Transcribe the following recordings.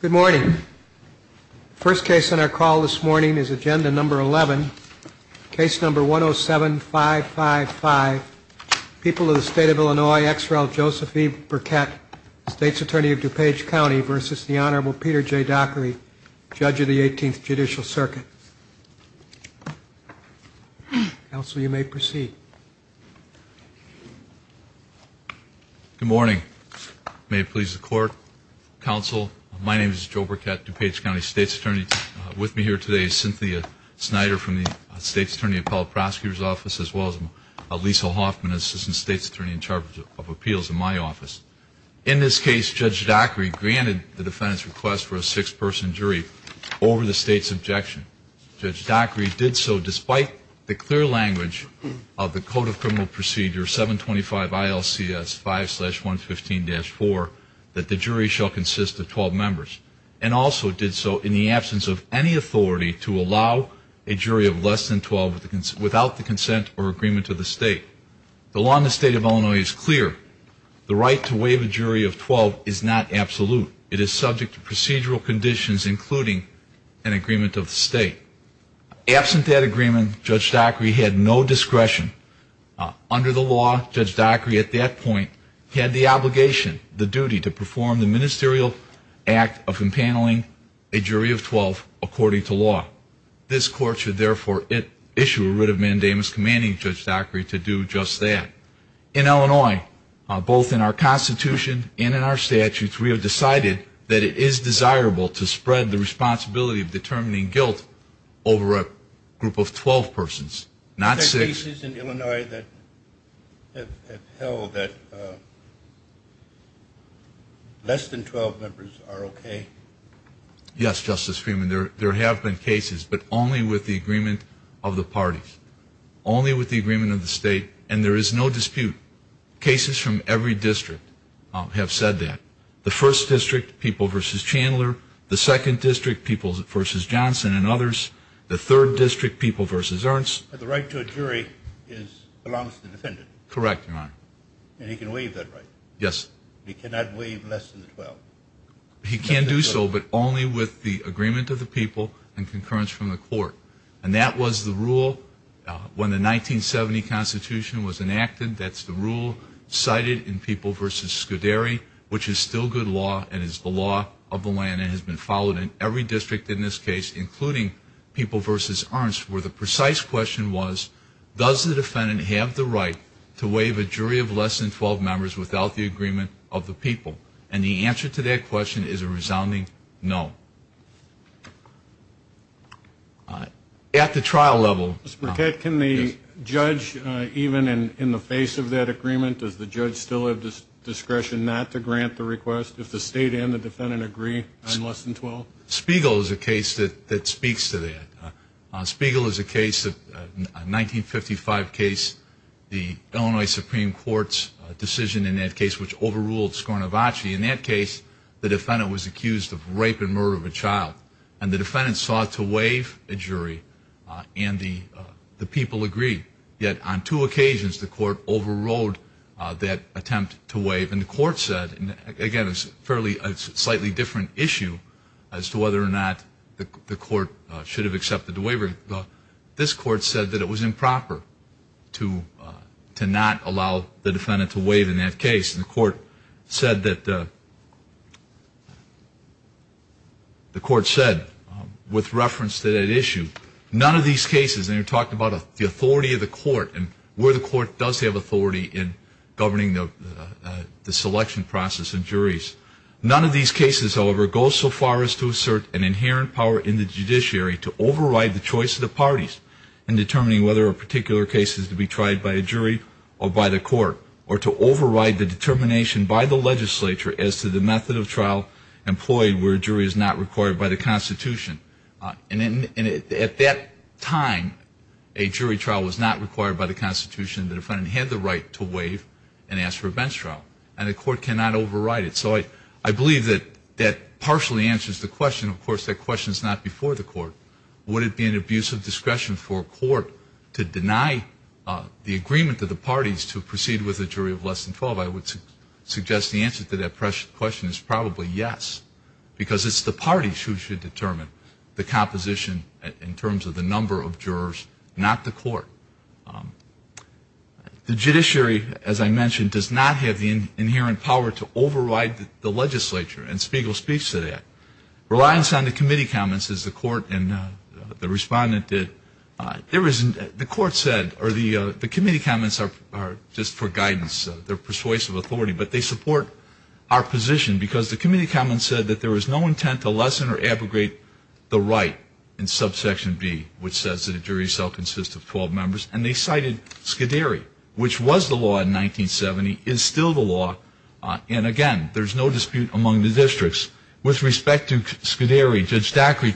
Good morning. First case on our call this morning is Agenda No. 11, Case No. 107555, People of the State of Illinois ex rel. Joseph E. Birkett, State's Attorney of DuPage County v. the Honorable Peter J. Dockery, Judge of the 18th Judicial Circuit. Counsel, you may proceed. Good morning. May it please the Court, Counsel, my name is Joe Birkett, DuPage County State's Attorney. With me here today is Cynthia Snyder from the State's Attorney Appellate Prosecutor's Office as well as Lisa Hoffman, Assistant State's Attorney in Charge of Appeals in my office. In this case, Judge Dockery granted the defendant's request for a six-person jury over the State's the clear language of the Code of Criminal Procedure 725 ILCS 5-115-4 that the jury shall consist of 12 members, and also did so in the absence of any authority to allow a jury of less than 12 without the consent or agreement of the State. The law in the State of Illinois is clear. The right to waive a jury of 12 is not absolute. It is subject to procedural conditions including an agreement of the State. Absent that agreement, Judge Dockery had no discretion. Under the law, Judge Dockery at that point had the obligation, the duty to perform the ministerial act of impaneling a jury of 12 according to law. This Court should therefore issue a writ of mandamus commanding Judge Dockery to do just that. In Illinois, both in our Constitution and in our statutes, we have decided that it is desirable to spread the responsibility of determining guilt over a group of 12 persons, not six. Are there cases in Illinois that have held that less than 12 members are okay? Yes, Justice Freeman, there have been cases, but only with the agreement of the parties, only with the agreement of the State, and there is no dispute. Cases from every district have said that. The first district, People v. Chandler, the second district, People v. Johnson and others, the third district, People v. Ernst. The right to a jury belongs to the defendant? Correct, Your Honor. And he can waive that right? Yes. He cannot waive less than 12? He can do so, but only with the agreement of the people and concurrence from the Court. And that was the rule when the 1970 Constitution was enacted. That's the rule cited in People v. Scuderi, which is still good law and is the law of the land and has been followed in every district in this case, including People v. Ernst, where the precise question was, does the defendant have the right to waive a jury of less than 12 members without the agreement of the people? And the answer to that question is a resounding no. At the trial level... Mr. Burkett, can the judge, even in the face of that agreement, does the judge still have discretion not to grant the request if the State and the defendant agree on less than 12? Spiegel is a case that speaks to that. Spiegel is a case, a 1955 case, the Illinois Supreme Court's decision in that case, which overruled Scornavacci. In that case, the defendant was accused of rape and murder of a child. And the defendant sought to waive a jury, and the people agreed. Yet, on two occasions, the court overruled that attempt to waive. And the court said, again, it's a slightly different issue as to whether or not the court should have accepted the waiver. This court said that it was improper to not allow the defendant to waive in that case. And the court said that, with reference to that issue, none of these cases, and you talked about the authority of the court and where the court does have authority in governing the selection process and juries, none of these cases, however, go so far as to assert an inherent power in the judiciary to override the choice of the parties in determining whether a particular case is to be tried by a jury or by the court, or to override the determination by the legislature as to the method of trial employed where a time a jury trial was not required by the Constitution, the defendant had the right to waive and ask for a bench trial. And the court cannot override it. So I believe that that partially answers the question. Of course, that question is not before the court. Would it be an abuse of discretion for a court to deny the agreement to the parties to proceed with a jury of less than 12? I would suggest the answer to that question is probably yes, because it's the parties who should determine the composition in terms of the number of jurors, not the court. The judiciary, as I mentioned, does not have the inherent power to override the legislature. And Spiegel speaks to that. Reliance on the committee comments, as the court and the Respondent did, there isn't. The court said, or the committee comments are just for guidance. They're persuasive authority. But they support our position, because the committee comments said that there was no intent to lessen or abrogate the right in subsection B, which says that a jury of so consists of 12 members. And they cited Scuderi, which was the law in 1970, is still the law. And again, there's no dispute among the districts. With respect to Scuderi, Judge Dackery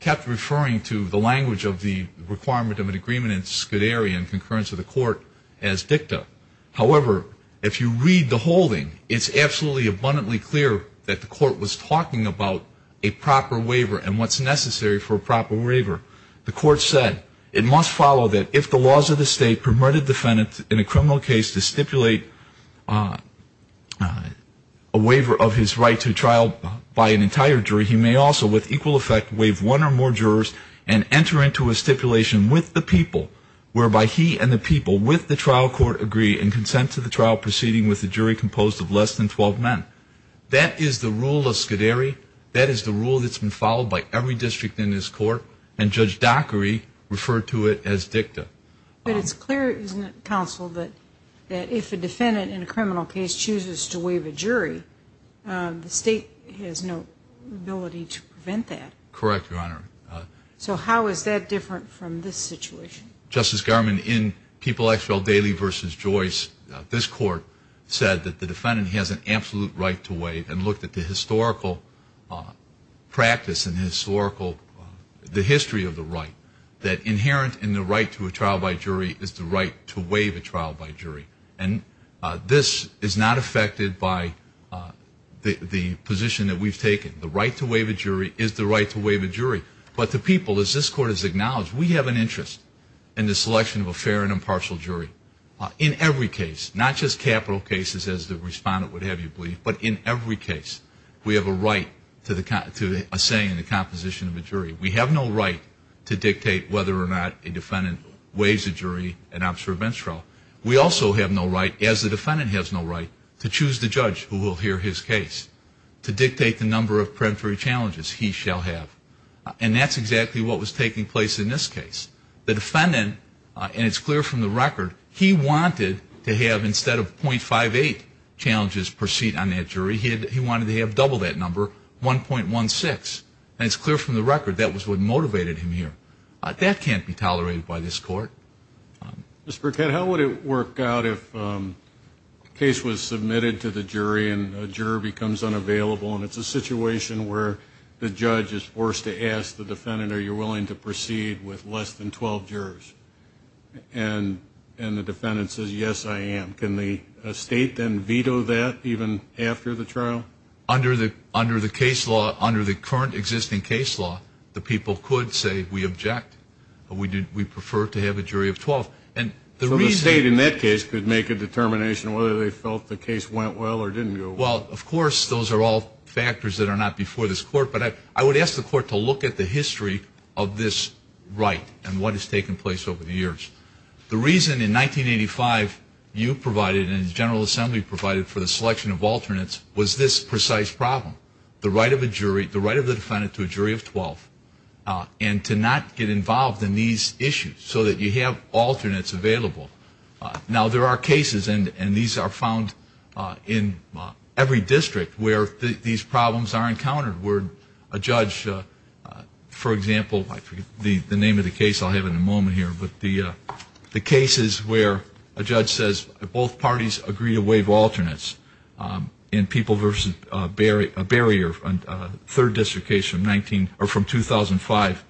kept referring to the language of the requirement of an agreement in Scuderi in concurrence with the court as dicta. However, if you read the holding, it's absolutely abundantly clear that the court was talking about a proper waiver and what's necessary for a proper waiver. The court said, it must follow that if the laws of the state permitted defendants in a criminal case to stipulate a waiver of his right to trial by an entire jury, he may also with equal effect waive one or more jurors and enter into a stipulation with the people whereby he and the people with the trial court agree and consent to the trial proceeding with a jury composed of less than 12 men. That is the rule of Scuderi. That is the rule that's been followed by every district in this court. And Judge Dackery referred to it as dicta. But it's clear, isn't it, counsel, that if a defendant in a criminal case chooses to waive a jury, the state has no ability to prevent that? Correct, Your Honor. So how is that different from this situation? Justice Garmon, in People Actual Daly v. Joyce, this court said that the defendant has an absolute right to waive and looked at the historical practice and historical, the history of the right, that inherent in the right to a trial by jury is the right to waive a trial by jury. And this is not affected by the position that we've taken. The right to waive a jury is the right to waive a jury. But the people, as this court has acknowledged, we have an interest in the selection of a fair and impartial jury. In every case, not just capital cases as the respondent would have you believe, but in every case, we have a right to a saying in the composition of a jury. We have no right to dictate whether or not a defendant waives a jury and opts for a bench trial. We also have no right, as the defendant has no right, to choose the judge who will hear his case to dictate the number of peremptory challenges he shall have. And that's exactly what was taking place in this case. The defendant, and it's clear from the record, he wanted to have, instead of .58 challenges per seat on that jury, he wanted to have double that number, 1.16. And it's clear from the record that was what motivated him here. That can't be tolerated by this court. Mr. Burkett, how would it work out if a case was submitted to the jury and a juror becomes unavailable and it's a situation where the judge is forced to ask the defendant, are you willing to proceed with less than 12 jurors? And the defendant says, yes, I am. Can the state then veto that even after the trial? Under the case law, under the current existing case law, the people could say, we object. We prefer to have a jury of 12. So the state in that case could make a determination whether they felt the case went well or didn't go well. Well, of course, those are all factors that are not before this court. But I would ask the court to look at the history of this right and what has taken place over the years. The reason in 1985 you provided and the General Assembly provided for the selection of alternates was this precise problem. The right of a jury, the right of the defendant to a jury of 12. And to not get involved in these issues so that you have alternates available. Now there are cases and these are found in every district where these problems are encountered where a judge, for example, the name of the case I'll have in a moment here, but the cases where a judge says both parties agree to waive alternates in people versus barrier, third district case from 2005,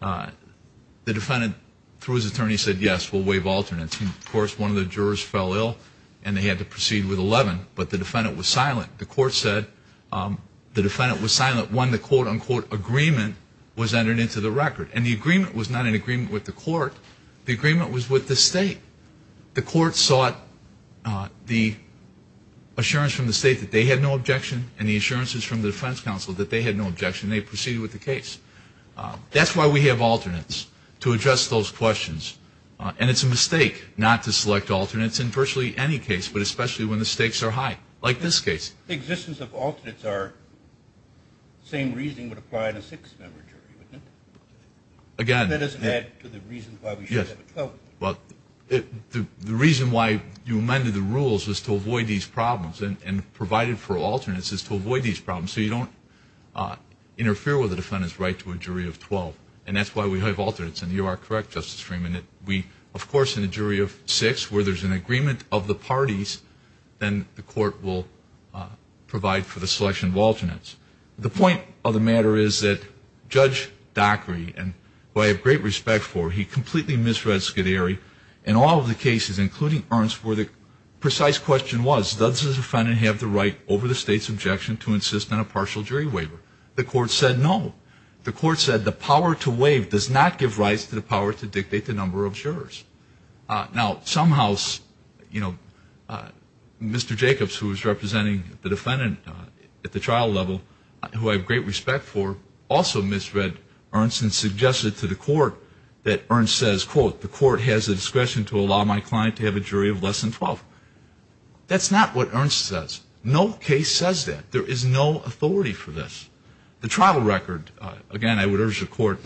the defendant, through his attorney, said yes, we'll waive alternates. And of course, one of the jurors fell ill and they had to proceed with 11, but the defendant was silent. The court said the defendant was silent when the quote, unquote, agreement was entered into the record. And the agreement was not an agreement with the court. The agreement was with the state. The court sought the assurance from the state that they had no objection and the assurances from the defense counsel that they had no objection and they proceeded with the case. That's why we have alternates, to address those questions. And it's a mistake not to select alternates in virtually any case, but especially when the stakes are high, like this case. The existence of alternates are, same reasoning would apply in a six-member jury, wouldn't it? Again, That doesn't add to the reason why we should have a 12-member jury. The reason why you amended the rules was to avoid these problems and provided for alternates is to avoid these problems so you don't interfere with the defendant's right to a jury of 12. And that's why we have alternates. And you are correct, Justice Freeman, that we, of course, in a jury of six, where there's an agreement of the parties, then the court will provide for the selection of alternates. The point of the matter is that Judge Dockery, who I have great respect for, he completely misread Scuderi in all of the cases, including Ernst, where the precise question was, does the defendant have the right over the state's objection to insist on a partial jury waiver? The court said no. The court said the power to waive does not give rights to the power to dictate the number of jurors. Now somehow, you know, Mr. Jacobs, who was representing the defendant at the trial level, who I have great respect for, also misread Ernst and suggested to the court that Ernst says, quote, the court has the discretion to allow my client to have a jury of less than 12. That's not what Ernst says. No case says that. There is no authority for this. The trial record, again, I would urge the court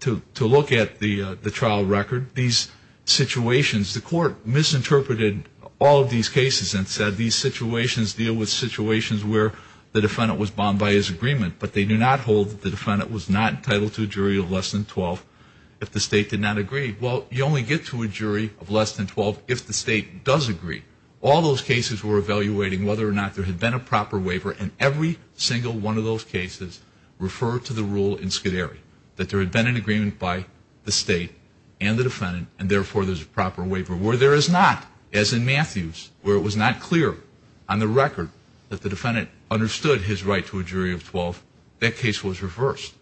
to look at the trial record. These situations, the court misinterpreted all of these cases and said these situations deal with situations where the defendant was bound by his agreement, but they do not hold that the defendant was not entitled to a jury of less than 12 if the state did not agree. Well, you only get to a jury of less than 12 if the state does agree. All those cases were evaluating whether or not there had been a proper waiver, and every single one of those cases referred to the rule in Scuderi that there had been an agreement by the state and the defendant, and therefore there's a proper waiver. Where there is not, as in Matthews, where it was not clear on the record that the defendant understood his right to a jury of 12, that case was reversed.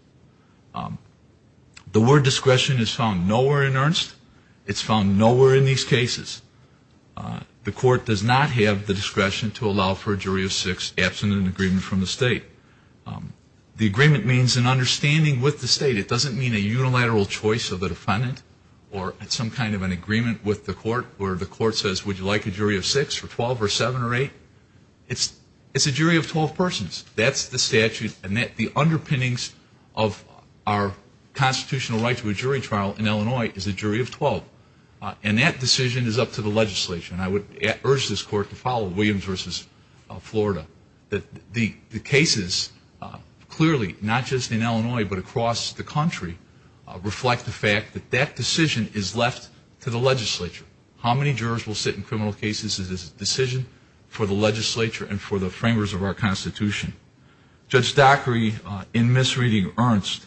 The word discretion is found nowhere in Ernst. It's found nowhere in these cases. The court does not have the discretion to allow for a jury of six, absent an agreement from the state. The agreement means an understanding with the state. It doesn't mean a unilateral choice of the defendant or some kind of an agreement with the court where the court says, would you like a jury of six or 12 or seven or eight? It's a jury of 12 persons. That's the statute and that the underpinnings of our constitutional right to a jury trial in Illinois is a jury of 12, and that decision is up to the legislature, and I would urge this court to follow Williams v. Florida. The cases clearly, not just in Illinois but across the country, reflect the fact that that decision is left to the legislature. How many jurors will sit in criminal cases is a decision for the legislature and for the framers of our Constitution. Judge Dockery, in misreading Ernst,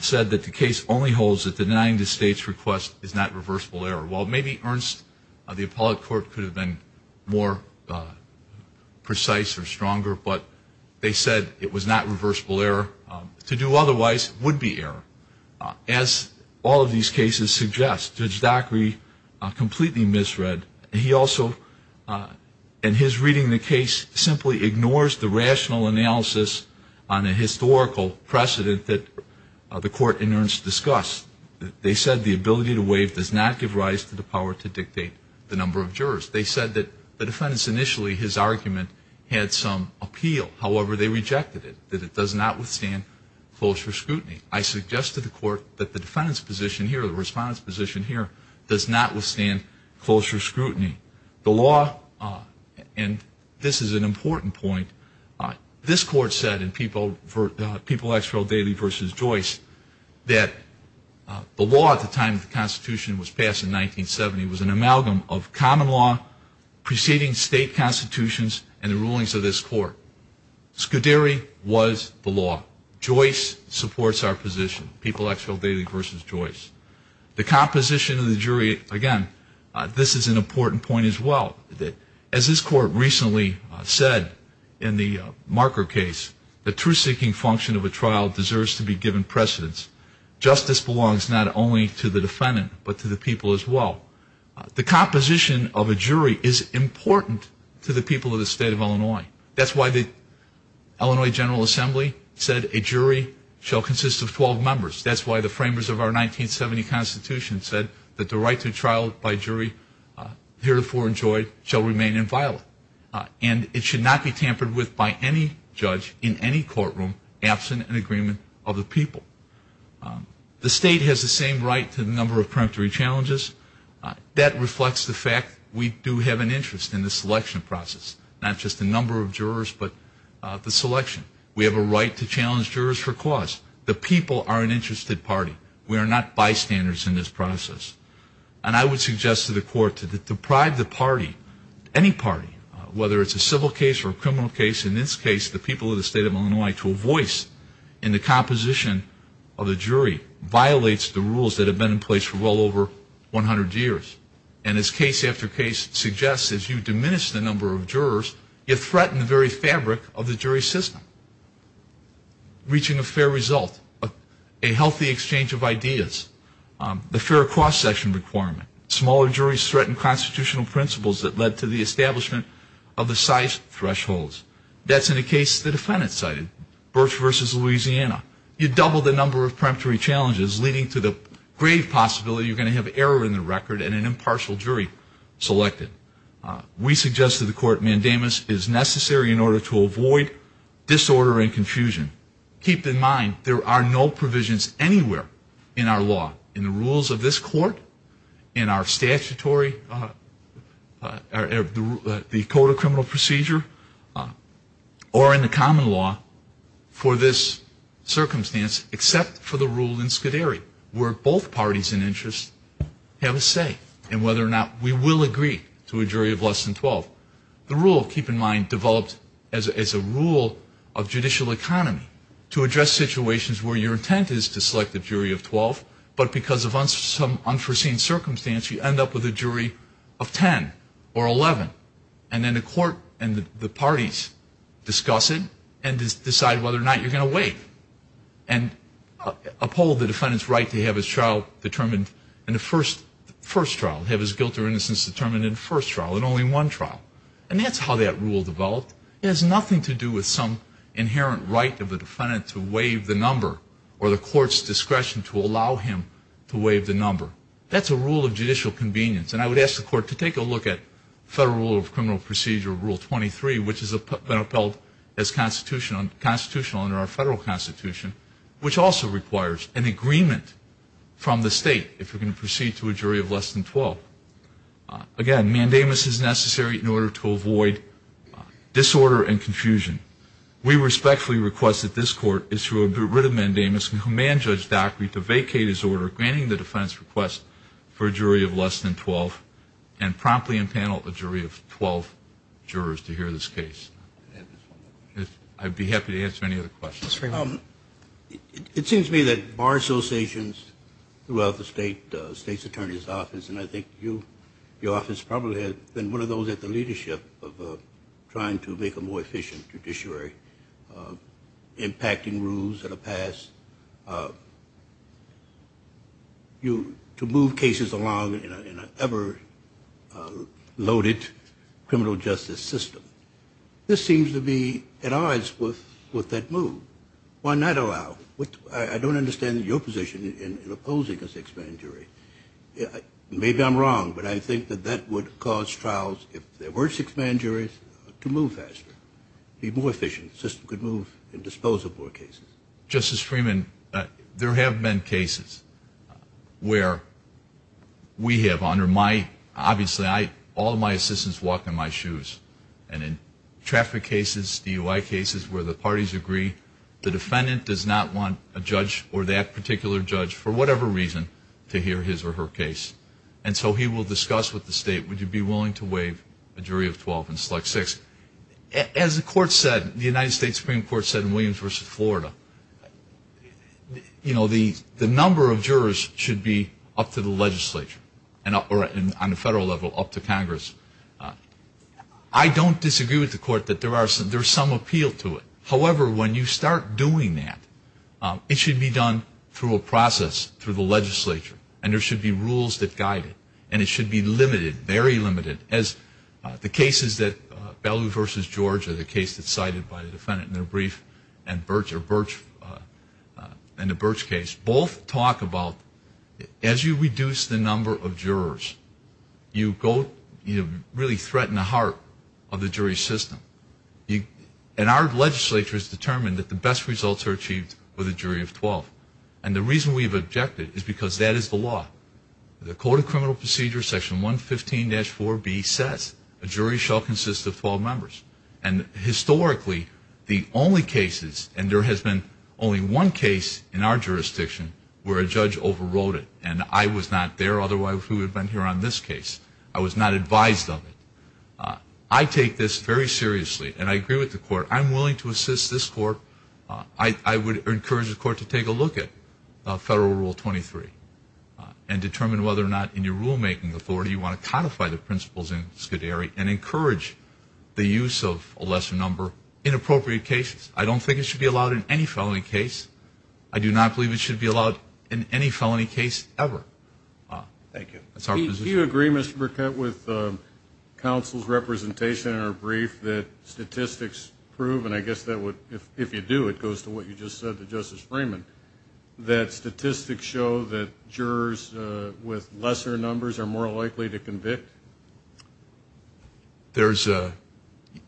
said that the case only holds that denying the state's request is not reversible error. Well, maybe Ernst, the appellate court could have been more precise or stronger, but they said it was not reversible error. To do otherwise would be error. As all of these cases suggest, Judge Dockery completely misread. He also, in his reading the case, simply ignores the rational analysis on a historical precedent that the court in Ernst discussed. They said the ability to waive does not give rise to the power to dictate the number of jurors. They said that the defendants initially, his argument had some appeal. However, they rejected it, that it does not withstand closer scrutiny. I suggest to the court that the defendant's position here, the respondent's position here, does not withstand closer scrutiny. The law, and this is an important point, this court said in People Expelled Daily v. Joyce that the law at the time the Constitution was passed in 1970 was an amalgam of common law, preceding state constitutions, and the rulings of this court. Scuderi was the law. Joyce supports our position, People Expelled Daily v. Joyce. The composition of the jury, again, this is an important point as well. As this court recently said in the Marker case, the truth-seeking function of a trial deserves to be given precedence. Justice belongs not only to the defendant, but to the people as well. The composition of a jury is important to the people of the state of Illinois. That's why the Illinois General Assembly said a jury shall consist of 12 members. That's why the framers of our 1970 Constitution said that the right to trial by jury heretofore enjoyed shall remain inviolate, and it should not be tampered with by any judge in any courtroom absent an agreement of the people. The state has the same right to the number of preemptory challenges. That reflects the fact we do have an interest in the selection process, not just the number of jurors, but the selection. We have a right to challenge jurors for cause. The people are an interested party. We are not bystanders in this process. And I would suggest to the court to deprive the party, any party, whether it's a civil case or a criminal case, in this case the people of the state of Illinois, to a voice in the composition of the jury violates the rules that have been in place for well over 100 years. And as case after case suggests, as you diminish the number of jurors, you threaten the very fabric of a healthy exchange of ideas. The fair cross-section requirement. Smaller juries threaten constitutional principles that led to the establishment of the size thresholds. That's in a case the defendant cited, Birch v. Louisiana. You double the number of preemptory challenges, leading to the grave possibility you're going to have error in the record and an impartial jury selected. We suggest to the court mandamus is necessary in order to avoid disorder and there are no provisions anywhere in our law, in the rules of this court, in our statutory or the code of criminal procedure, or in the common law for this circumstance, except for the rule in Scuderi, where both parties in interest have a say in whether or not we will agree to a jury of less than 12. The rule, keep in mind, developed as a rule of judicial economy to address situations where your intent is to select a jury of 12, but because of some unforeseen circumstance, you end up with a jury of 10 or 11. And then the court and the parties discuss it and decide whether or not you're going to wait. And uphold the defendant's right to have his trial determined in the first trial, have his guilt or innocence determined in the first trial, in only one trial. And that's how that rule developed. It has nothing to do with some inherent right of the defendant to waive the number or the court's discretion to allow him to waive the number. That's a rule of judicial convenience. And I would ask the court to take a look at Federal Rule of Criminal Procedure, Rule 23, which has been upheld as constitutional under our federal constitution, which also requires an agreement from the state if you're going to proceed to a jury of less than 12. Again, mandamus is necessary in order to avoid disorder and confusion. We respectfully request that this court is to rid of mandamus and command Judge Dockery to vacate his order, granting the defense request for a jury of less than 12, and promptly impanel a jury of 12 jurors to hear this case. I'd be happy to answer any other questions. It seems to me that bar associations throughout the state's attorney's office, and I think your office probably has been one of those at the leadership of trying to make a more efficient judiciary, impacting rules that are passed, to move cases along in an ever-loaded criminal justice system. This seems to be at odds with that move. Why not allow? I don't understand your position in opposing a six-man jury. Maybe I'm wrong, but I think that that would cause trials, if there were six-man juries, to move faster, be more efficient, the system could move and dispose of more cases. Justice Freeman, there have been cases where we have, under my, obviously, all of my assistants walk in my shoes. And in traffic cases, DUI cases where the parties agree, the defendant does not want a judge or that particular judge, for whatever reason, to hear his or her case. And so he will discuss with the state, would you be willing to waive a jury of 12 and select six? As the court said, the United States Supreme Court said in Williams v. Florida, you know, the number of jurors should be up to the legislature, or on a federal level, up to Congress. I don't disagree with the court that there are some, there's some appeal to it. However, when you start doing that, it should be done through a process, through the legislature. And there should be rules that guide it. And it should be limited, very limited, as the cases that Bellew v. Georgia, the case that's cited by the defendant in their brief, and the Birch case, both talk about, as you reduce the number of jurors, you go, you really threaten the heart of the jury system. And our legislature has determined that the best results are achieved with a jury of 12. And the reason we've objected is because that is the law. The Code of Criminal Procedure, Section 115-4B, says a jury shall consist of 12 members. And historically, the only cases, and there has been only one case in our jurisdiction where a judge overrode it. And I was not there, otherwise we would have been here on this case. I was not advised of it. I take this very seriously. And I agree with the court. I'm willing to assist this court. I would encourage the court to take a look at Federal Rule 23 and determine whether or not, in your rulemaking authority, you want to codify the principles in Scuderi and encourage the use of a lesser number in appropriate cases. I don't think it should be allowed in any felony case. I do not believe it should be allowed in any felony case ever. Do you agree, Mr. Burkett, with counsel's representation in our brief that statistics prove, and I guess if you do, it goes to what you just said to Justice Freeman, that statistics show that jurors with lesser numbers are more likely to convict? There's a,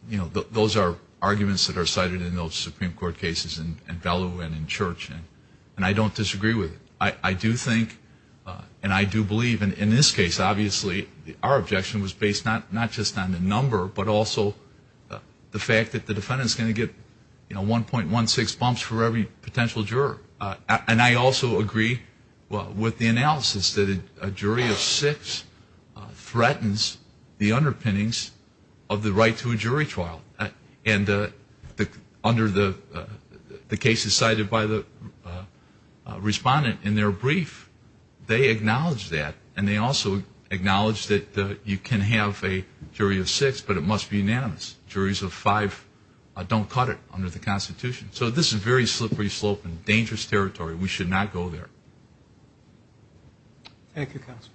you know, those are arguments that are cited in those Supreme Court cases in Bellow and in Church. And I don't disagree with it. I do think, and I do believe, in this case, obviously, our objection was based not just on the number, but also the fact that the defendant is going to get, you know, 1.16 bumps for every potential juror. And I also agree with the analysis that a jury of six threatens the underpinnings of the right to a jury trial. And under the cases cited by the respondent in their brief, they acknowledge that. And they also acknowledge that you can have a jury of six, but it must be unanimous. Juries of five don't cut it under the Constitution. So this is a very important point. And I think that we should not go there. Thank you, Counsel.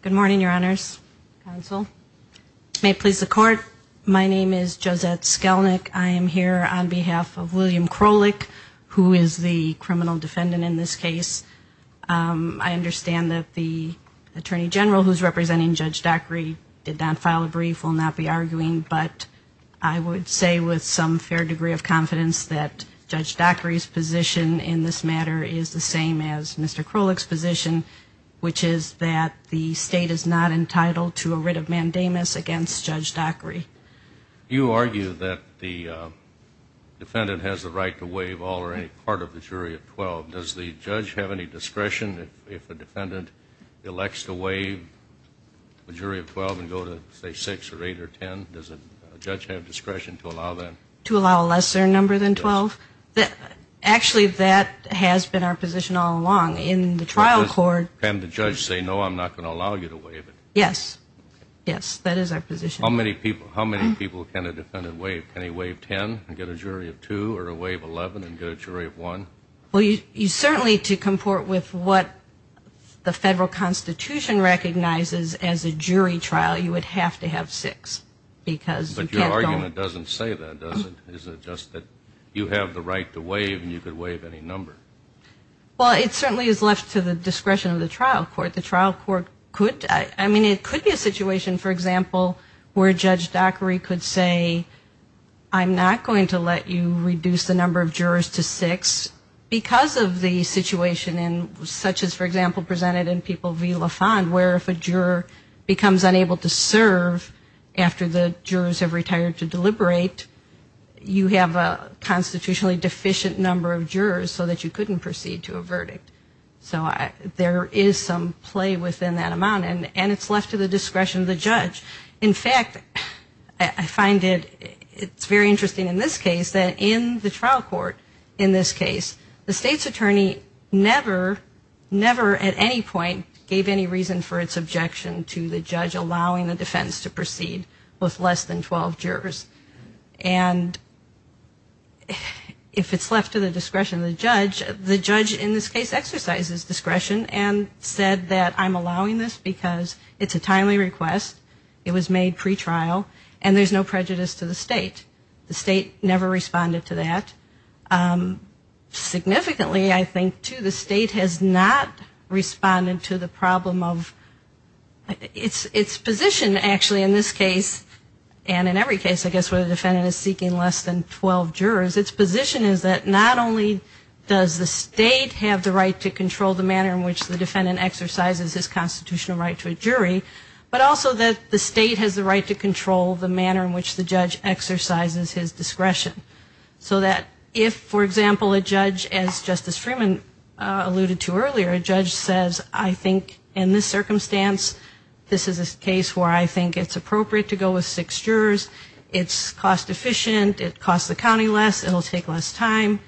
Good morning, Your Honors, Counsel. May it please the Court, my name is Josette Skelnick. I am here on behalf of William Krolik, who is the criminal defendant in this case. I understand that the Attorney General, who is representing Judge Dockery, did not file a brief, will not be arguing. But I would say with some fair degree of confidence that Judge Dockery's position in this matter is the same as Mr. Krolik's position, which is that the State is not entitled to a writ of mandamus against Judge Dockery. You argue that the defendant has the right to waive all or any part of the jury of 12. Does the judge have any discretion if a defendant elects to waive a jury of 12 and go to, say, 6 or 8 or 10? Does a judge have discretion to allow that? To allow a lesser number than 12? Actually, that has been our position all along. In the trial court... Can the judge say, no, I'm not going to allow you to waive it? Yes. Yes, that is our position. How many people can a defendant waive? Can he waive 10 and get a jury of 2 or a waive 11 and get a jury of 1? Well, you certainly, to comport with what the Federal Constitution recognizes as a jury trial, you would have to have 6 because you can't go... But your argument doesn't say that, does it? Is it just that you have the right to waive and you could waive any number? Well, it certainly is left to the discretion of the trial court. The trial court could – I mean, it could be a situation, for example, where Judge Dockery could say, I'm not going to let you reduce the number of jurors to 6 because of the situation, such as, for example, presented in People v. La Fond, where if a juror becomes unable to serve after the jurors have retired to deliberate, you have a constitutionally deficient number of jurors so that you couldn't proceed to a verdict. So there is some play within that amount and it's left to the discretion of the judge. In fact, I find it's very interesting in this case that in the trial court, in this case, the state's attorney never, never at any point gave any reason for its objection to the judge allowing the defense to proceed with less than 12 jurors. And if it's left to the discretion of the judge, the judge in this case exercises discretion and said that I'm allowing this because it's a timely request, it was made pretrial and there's no prejudice to the state. The state never responded to that. Significantly, I think, too, the state has not responded to the problem of – its position, actually, in this case, and in every case I guess where the defendant is seeking less than 12 jurors, its position is that not only does the state have the right to control the manner in which the defendant exercises his constitutional right to a jury, but also that the state has the right to control the manner in which the judge exercises his discretion. So that if, for example, a judge, as Justice Freeman alluded to earlier, a judge says, I think in this circumstance, this is a case where I think it's appropriate to go with six jurors, it's cost efficient, it costs the county less, it'll take less time,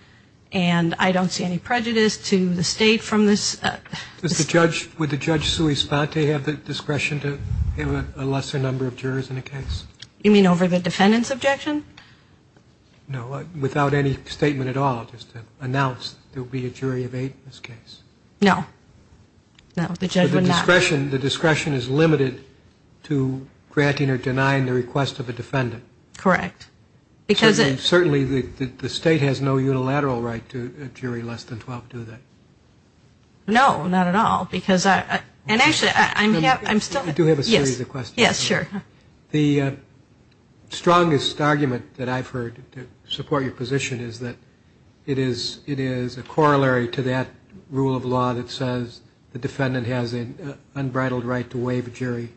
and I don't see any prejudice to the state from this – Would the Judge Sui Sponte have the discretion to give a lesser number of jurors in a case? You mean over the defendant's objection? No, without any statement at all, just to announce there will be a jury of eight in this case. No. No, the judge would not. The discretion is limited to granting or denying the request of a defendant. Correct. Certainly the state has no unilateral right to a jury less than 12, do they? No, not at all, because I – and actually, I'm still – I do have a series of questions. Yes, sure. The strongest argument that I've heard to support your position is that it is a corollary to that rule of law that says the defendant has an unbridled right to waive a jury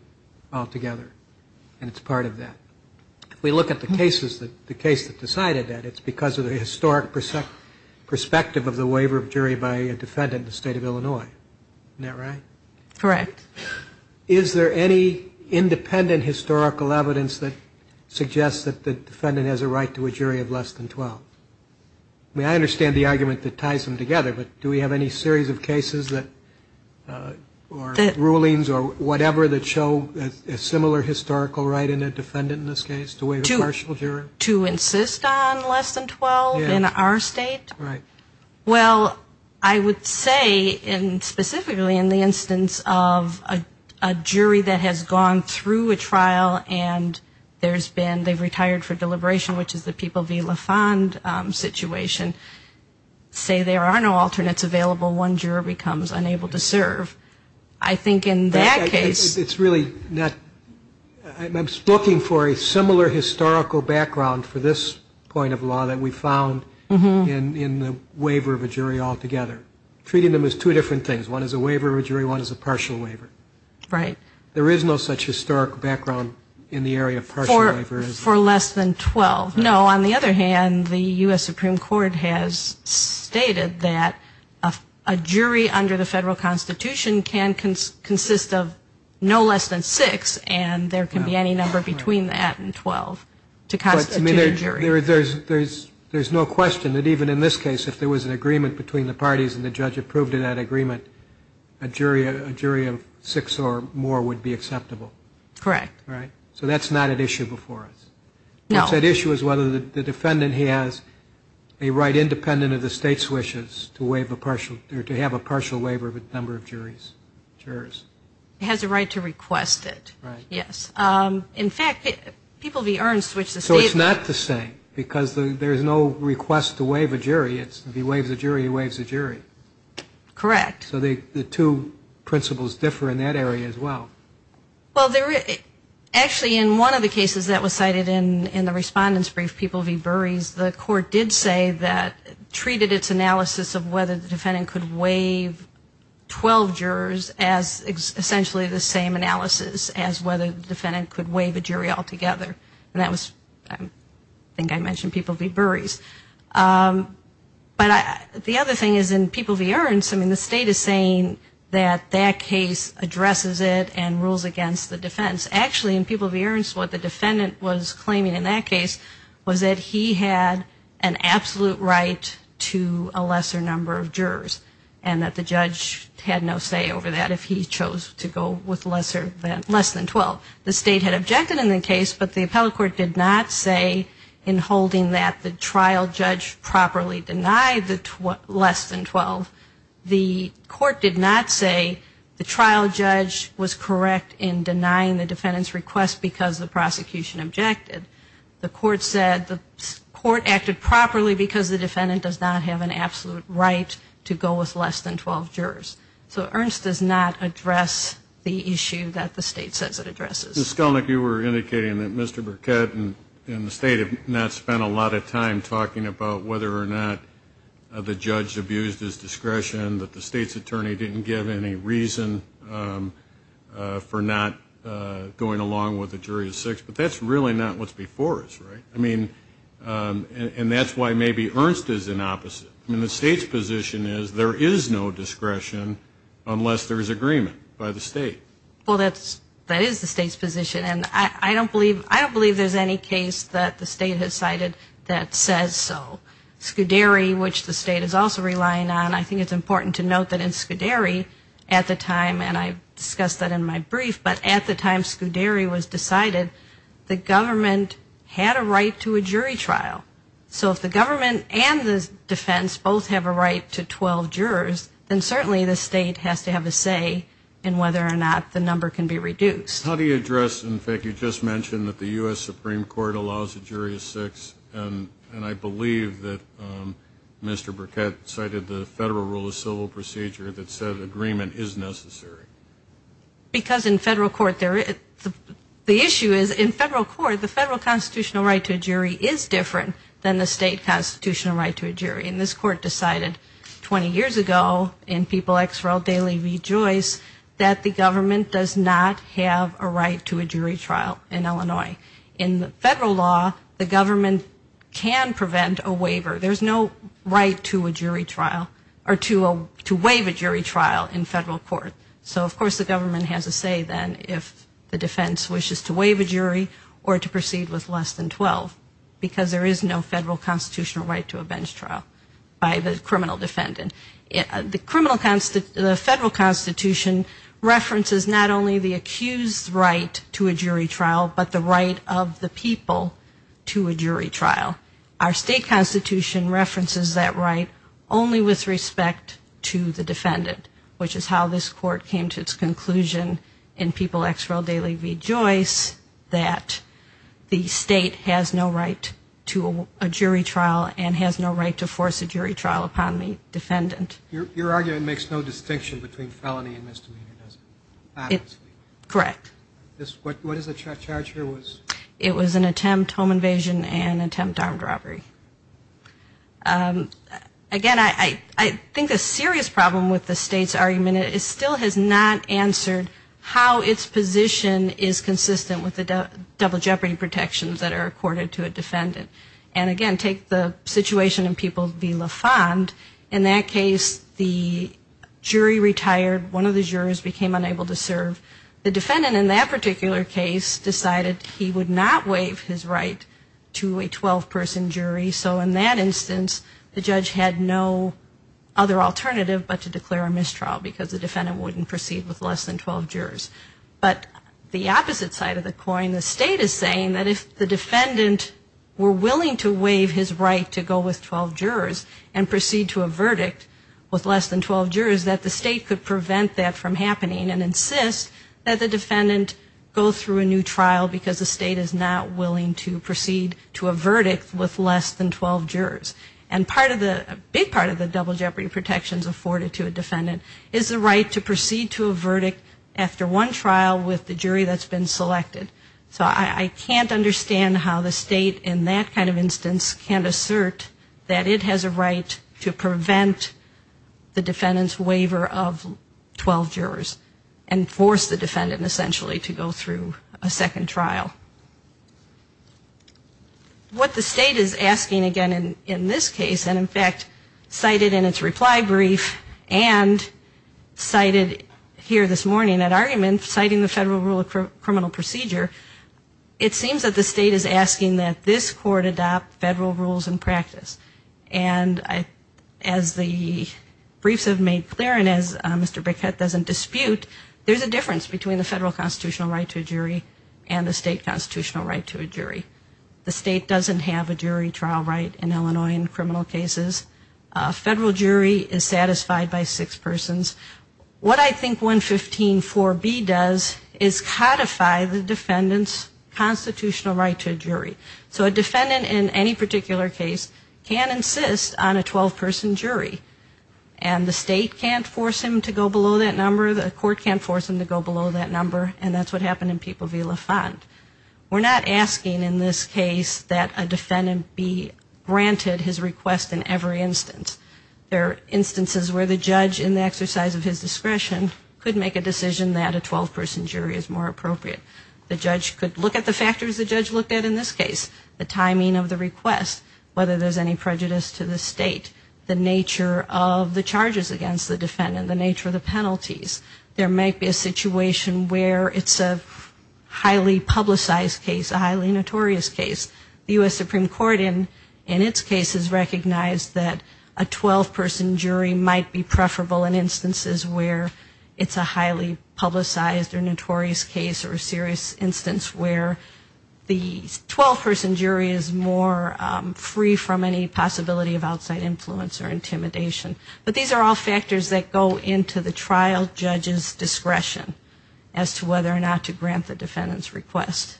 altogether, and it's part of that. If we look at the cases that – the case that decided that, it's because of the historic perspective of the waiver of jury by a defendant in the state of Illinois. Isn't that right? Correct. Is there any independent historical evidence that suggests that the defendant has a right to a jury of less than 12? I mean, I understand the argument that ties them together, but do we have any series of cases that – or rulings or whatever that show a similar historical right in a defendant in this case to waive a partial jury? To insist on less than 12 in our state? Yes. Right. Well, I would say, and specifically in the instance of a jury that has gone through a trial and there's been – they've retired for deliberation, which is the People v. La Fond situation, say there are no alternates available, one juror becomes unable to serve. I think in that case – It's really not – I'm looking for a similar historical background for this point of law that we found in the waiver of a jury altogether. Treating them as two different things. One is a waiver of a jury, one is a partial waiver. Right. There is no such historical background in the area of partial waiver. For less than 12. No, on the other hand, the U.S. Supreme Court has stated that a jury under the federal Constitution can consist of no less than 6 and there can be any number between that and 12 to constitute a jury. But there's no question that even in this case, if there was an agreement between the parties and the judge approved that agreement, a jury of 6 or more would be acceptable. Correct. Right? So that's not at issue before us. No. What's at issue is whether the defendant has a right independent of the state's partial waiver of a number of jurors. He has a right to request it. Right. Yes. In fact, People v. Earns switched the state. So it's not the same because there's no request to waive a jury. It's if he waives a jury, he waives a jury. Correct. So the two principles differ in that area as well. Well, actually in one of the cases that was cited in the respondent's brief, People v. Earns waived 12 jurors as essentially the same analysis as whether the defendant could waive a jury altogether. And that was, I think I mentioned People v. Burries. But the other thing is in People v. Earns, I mean, the state is saying that that case addresses it and rules against the defense. Actually, in People v. Earns, what the defendant was claiming in that case was that he had an absolute right to a lesser number of jurors and that the judge had no say over that if he chose to go with less than 12. The state had objected in the case, but the appellate court did not say in holding that the trial judge properly denied the less than 12. The court did not say the trial judge was correct in denying the defendant's request because the prosecution objected. The court said the court acted properly because the defendant does not have an absolute right to go with less than 12 jurors. So Earns does not address the issue that the state says it addresses. Mr. Skelnick, you were indicating that Mr. Burkett and the state have not spent a lot of time talking about whether or not the judge abused his discretion, that the state's attorney didn't give any reason for not going along with a jury of six. But that's really not what's before us, right? And that's why maybe Earns does the opposite. The state's position is there is no discretion unless there is agreement by the state. Well, that is the state's position, and I don't believe there's any case that the state has cited that says so. Scuderi, which the state is also relying on, I think it's important to note that in Scuderi at the time, and I discussed that in my brief, but at the time Scuderi was decided, the government had a right to a jury trial. So if the government and the defense both have a right to 12 jurors, then certainly the state has to have a say in whether or not the number can be reduced. How do you address, in fact, you just mentioned that the U.S. Supreme Court allows a jury of six, and I believe that Mr. Burkett cited the Federal Rule of Civil Procedure that said agreement is necessary. Because in federal court, the issue is in federal court, the federal constitutional right to a jury is different than the state constitutional right to a jury. And this court decided 20 years ago in People X for All Daily Rejoice that the government does not have a right to a jury trial in Illinois. In federal law, the government can prevent a waiver. There's no right to a jury trial or to waive a jury trial in federal court. So of course the government has a say then if the defense wishes to waive a jury or to proceed with less than 12, because there is no federal constitutional right to a bench trial by the criminal defendant. The federal constitution references not only the accused's right to a jury trial, but the right of the people to a jury trial. Our state constitution references that right only with respect to the defendant, which is how this court came to its conclusion in People X for All Daily Rejoice that the state has no right to a jury trial and has no right to force a jury trial upon the defendant. Your argument makes no distinction between felony and misdemeanor, does it? Correct. What is the charge here? It was an attempt home invasion and attempt armed robbery. Again, I think the serious problem with the state's argument is it still has not answered how its position is consistent with the double jeopardy protections that are accorded to a defendant. And again, take the situation in People v. La Fond. In that case, the jury retired, one of the jurors became unable to serve. The defendant in that particular case decided he would not waive his right to a 12-person jury, so in that instance the judge had no other alternative but to declare a mistrial because the defendant wouldn't proceed with less than 12 jurors. But the opposite side of the coin, the state is saying that if the defendant were willing to waive his right to go with 12 jurors and proceed to a verdict with less than 12 jurors, that the state could prevent that from happening and insist that the defendant go through a new trial because the state is not willing to proceed to a verdict with less than 12 jurors. And part of the, a big part of the double jeopardy protections afforded to a defendant is the right to proceed to a verdict after one trial with the jury that's been selected. So I can't understand how the state in that kind of instance can't assert that it has a right to prevent the defendant's waiver of 12 jurors and force the defendant to go through a new trial. What the state is asking again in this case, and in fact cited in its reply brief and cited here this morning at argument, citing the Federal Rule of Criminal Procedure, it seems that the state is asking that this court adopt federal rules and practice. And as the briefs have made clear and as Mr. Bickett doesn't dispute, there's a difference between the federal constitutional right to a jury and the state constitutional right to a jury. The state doesn't have a jury trial right in Illinois in criminal cases. A federal jury is satisfied by six persons. What I think 115.4b does is codify the defendant's constitutional right to a jury. So a defendant in any particular case can insist on a 12-person jury. And the state can't force him to go below that number. The court can't force him to go below that number. And that's what happened in People v. LaFont. We're not asking in this case that a defendant be granted his request in every instance. There are instances where the judge, in the exercise of his discretion, could make a decision that a 12-person jury is more appropriate. The judge could look at the factors the judge looked at in this case, the timing of the request, whether there's any prejudice to the state, the nature of the charges against the defendant, the nature of the penalties. And that's a highly publicized case, a highly notorious case. The U.S. Supreme Court in its case has recognized that a 12-person jury might be preferable in instances where it's a highly publicized or notorious case or a serious instance where the 12-person jury is more free from any possibility of outside influence or intimidation. But these are all factors that go into the trial judge's discretion as to whether or not to grant the defendant's request.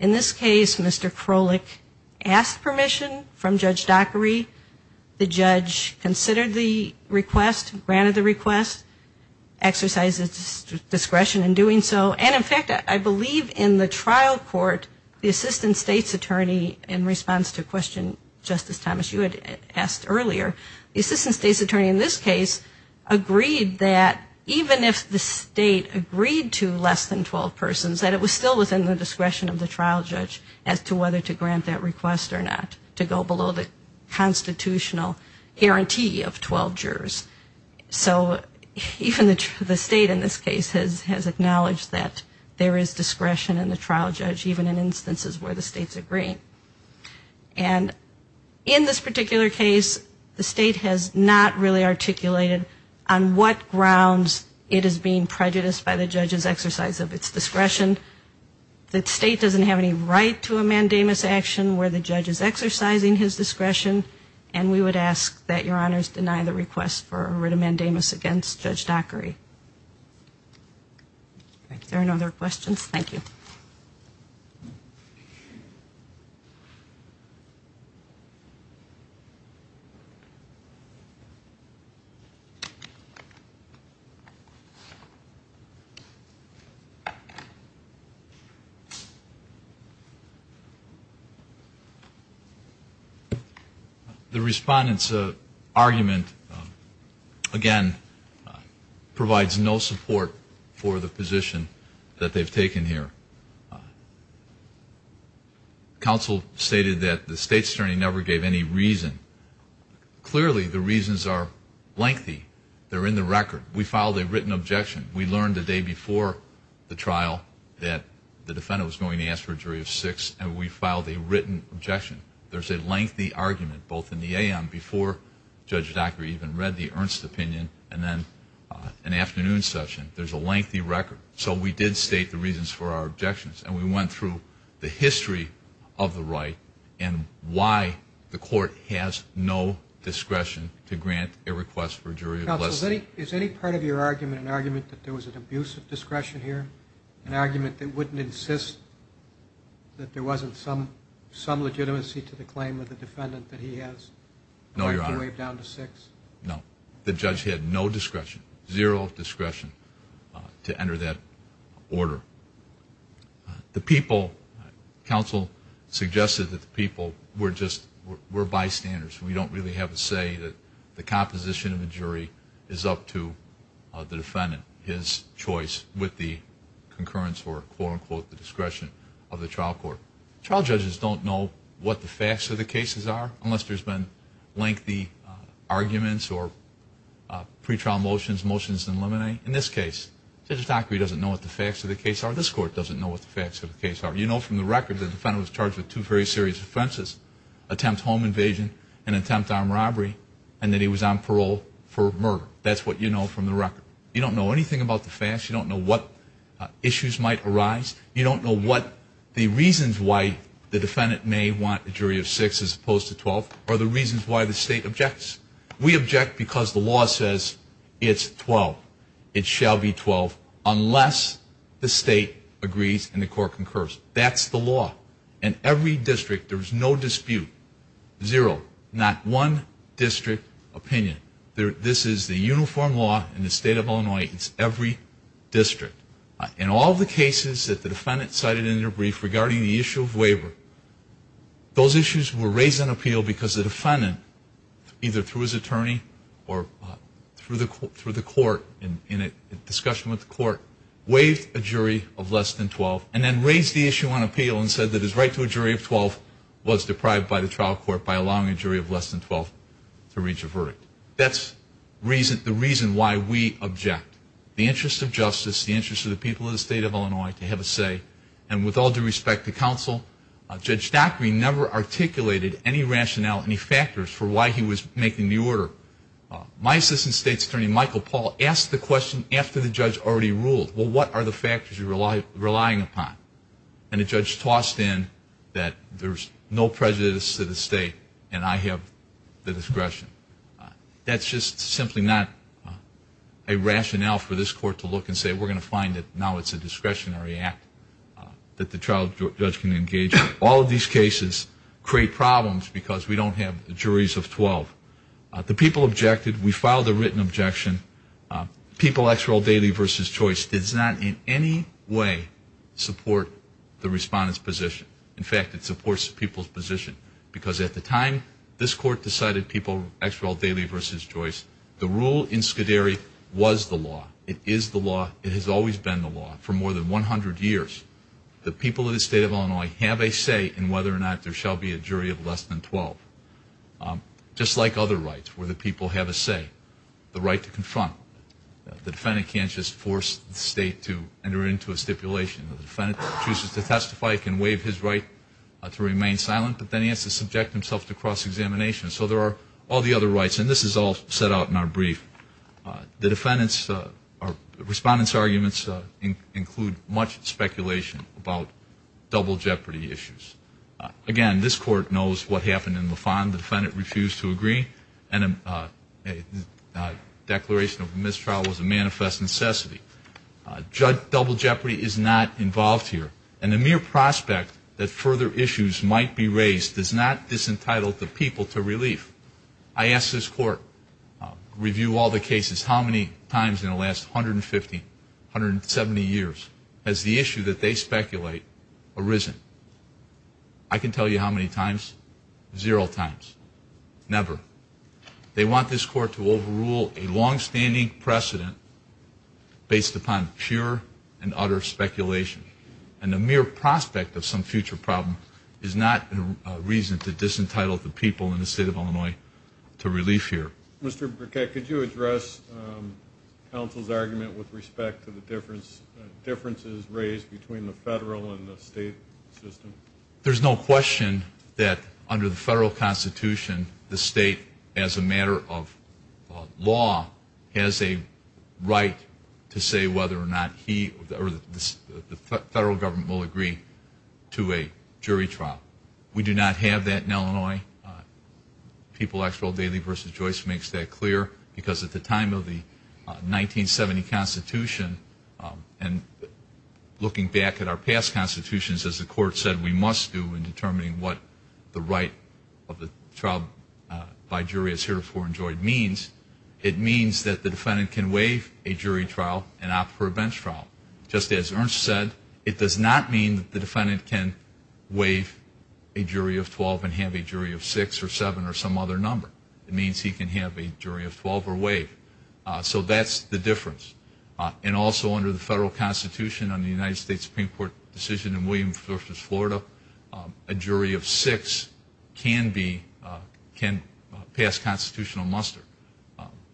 In this case, Mr. Krolik asked permission from Judge Dockery. The judge considered the request, granted the request, exercised his discretion in doing so. And, in fact, I believe in the trial court, the assistant state's attorney, in response to a question, Justice Thomas, you had asked earlier, the assistant state's attorney in this case agreed that even if the state agreed to grant the defendant's request, the state would have discretion of the trial judge as to whether to grant that request or not to go below the constitutional guarantee of 12 jurors. So even the state in this case has acknowledged that there is discretion in the trial judge, even in instances where the state's agreeing. And in this particular case, the state has not really articulated on what grounds it is being prejudiced by the judge's exercise of its discretion. The state doesn't have any right to a mandamus action where the judge is exercising his discretion. And we would ask that Your Honors deny the request for a writ of mandamus against Judge Dockery. If there are no other questions, thank you. The respondent's argument, again, provides no support for the position that they've taken here. Counsel stated that the state's attorney never gave any reason. Clearly, the reasons are lengthy. They're in the record. We filed a written objection. There's a lengthy argument, both in the AM, before Judge Dockery even read the Ernst opinion, and then an afternoon session. There's a lengthy record. So we did state the reasons for our objections. And we went through the history of the right and why the court has no discretion to grant a request for a jury of less than 12 jurors. Counsel, is any part of your argument an argument that there was an abuse of discretion here, an argument that we should have discretion? Or that you wouldn't insist that there wasn't some legitimacy to the claim of the defendant that he has? No, Your Honor. Do I have to waive down to six? No. The judge had no discretion, zero discretion, to enter that order. The people, counsel suggested that the people were just, were bystanders. We don't really have a say that the composition of the jury is up to the defendant. It's not his choice with the concurrence or, quote, unquote, the discretion of the trial court. Trial judges don't know what the facts of the cases are unless there's been lengthy arguments or pretrial motions, motions in limine. In this case, Judge Dockery doesn't know what the facts of the case are. This court doesn't know what the facts of the case are. You know from the record the defendant was charged with two very serious offenses, attempt home invasion and attempt armed robbery, and that he was on parole for murder. That's what you know from the record. You don't know anything about the facts. You don't know what issues might arise. You don't know what the reasons why the defendant may want a jury of six as opposed to 12 are the reasons why the state objects. We object because the law says it's 12. It shall be 12 unless the state agrees and the court concurs. That's the law. In every district, there's no dispute, zero, not one district opinion. This is the uniform law in the state of Illinois. It's every district. In all the cases that the defendant cited in their brief regarding the issue of waiver, those issues were raised on appeal because the defendant, either through his attorney or through the court in a discussion with the court, waived a jury of less than 12 and then raised the issue on appeal and said that his right to a jury of 12 was deprived by the trial court by allowing a jury of less than 12. That's the reason why we object. The interest of justice, the interest of the people of the state of Illinois to have a say. And with all due respect to counsel, Judge Dockery never articulated any rationale, any factors for why he was making the order. My assistant state attorney, Michael Paul, asked the question after the judge already ruled, well, what are the factors you're relying upon? And the judge tossed in that there's no prejudice to the state and I have the rationale for this court to look and say we're going to find that now it's a discretionary act that the trial judge can engage in. All of these cases create problems because we don't have juries of 12. The people objected. We filed a written objection. People, X role, daily versus choice does not in any way support the respondent's position. In fact, it supports the people's position because at the time, this court decided people, X role, daily versus choice. The rule in Scuderi was the law. It is the law. It has always been the law for more than 100 years. The people of the state of Illinois have a say in whether or not there shall be a jury of less than 12. Just like other rights where the people have a say, the right to confront. The defendant can't just force the state to enter into a stipulation. The defendant chooses to testify, can waive his right to remain silent, but then he has to subject himself to cross-examination. So there are all the other rights. And this is all set out in our brief. The defendant's or respondent's arguments include much speculation about double jeopardy issues. Again, this court knows what happened in Lafon. The defendant refused to agree. And a declaration of mistrial was a manifest necessity. Double jeopardy is not involved here. And the mere prospect that further issues might be raised does not disentitle the people to relief. I asked this court, review all the cases, how many times in the last 150, 170 years has the issue that they speculate arisen? I can tell you how many times. Zero times. Never. They want this court to overrule a longstanding precedent based upon pure and utter speculation. And the mere prospect of some future problem is not a reason to disentitle the people in the state of Illinois to relief here. Mr. Burkett, could you address counsel's argument with respect to the differences raised between the federal and the state system? There's no question that under the federal constitution, the state as a matter of law has a right to say whether or not he or the federal government will agree to a jury trial. We do not have that in Illinois. People Actual Daily v. Joyce makes that clear. Because at the time of the 1970 constitution, and looking back at our past constitutions, as the court said we must do in determining what the right of the trial by jury is heretofore enjoyed means, it means that the defendant can waive a jury trial and opt for a bench trial. Just as Ernst said, it does not mean that the defendant can waive a jury of 12 and have a jury of 6 or 7 or some other number. It means he can have a jury of 12 or waive. So that's the difference. And also under the federal constitution, under the United States Supreme Court decision in Williams v. Florida, a jury of 6 can pass constitutional muster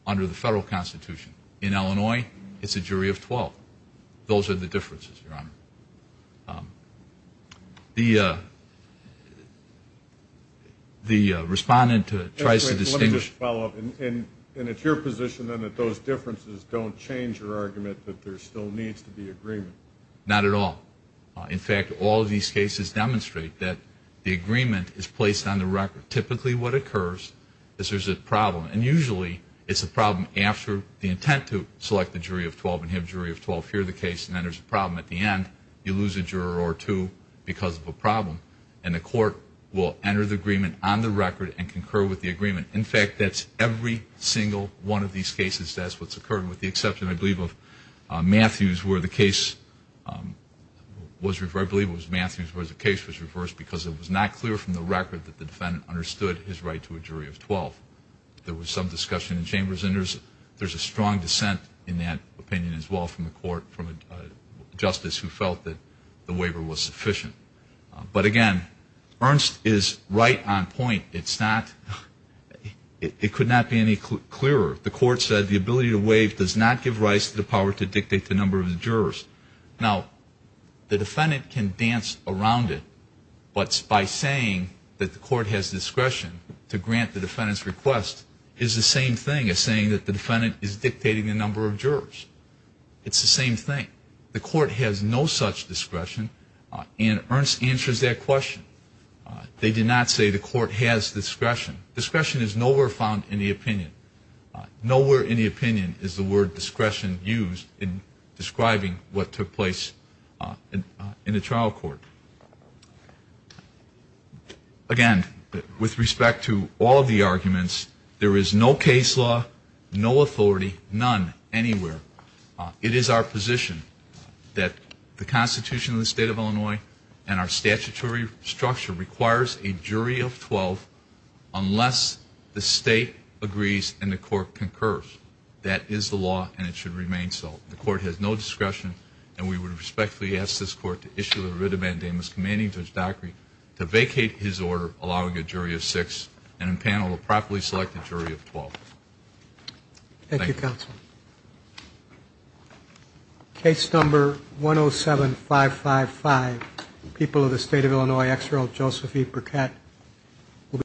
under the federal constitution. In Illinois, it's a jury of 12. Those are the differences, Your Honor. The respondent tries to distinguish. Let me just follow up. And it's your position then that those differences don't change your argument that there still needs to be agreement? Not at all. In fact, all of these cases demonstrate that the agreement is placed on the record. Typically what occurs is there's a problem, and usually it's a problem after the intent to select a jury of 12 and have a jury of 12 hear the case, and then there's a problem at the end. You lose a juror or two because of a problem, and the court will enter the agreement on the record and concur with the agreement. In fact, that's every single one of these cases. That's what's occurred with the exception, I believe, of Matthews, where the case was reversed, I believe it was Matthews, where the case was reversed because it was not clear from the record that the defendant understood his right to a jury of 12. There was some discussion in chambers, and there's a strong dissent in that opinion as well from the court, from a justice who felt that the waiver was sufficient. But, again, Ernst is right on point. It could not be any clearer. Now, the defendant can dance around it, but by saying that the court has discretion to grant the defendant's request is the same thing as saying that the defendant is dictating the number of jurors. It's the same thing. The court has no such discretion, and Ernst answers that question. They did not say the court has discretion. Discretion is nowhere found in the opinion. Nowhere in the opinion is the word discretion used in describing what took place in the trial court. Again, with respect to all of the arguments, there is no case law, no authority, none anywhere. It is our position that the Constitution of the State of Illinois and our statutory structure requires a jury of 12 unless the state agrees and the court concurs. That is the law, and it should remain so. The court has no discretion, and we would respectfully ask this court to issue the writ of mandamus commanding Judge Daugherty to vacate his order, allowing a jury of six and impanel a properly selected jury of 12. Thank you. Thank you, counsel. Case number 107555, people of the State of Illinois, Exeralt Joseph E. Burkett.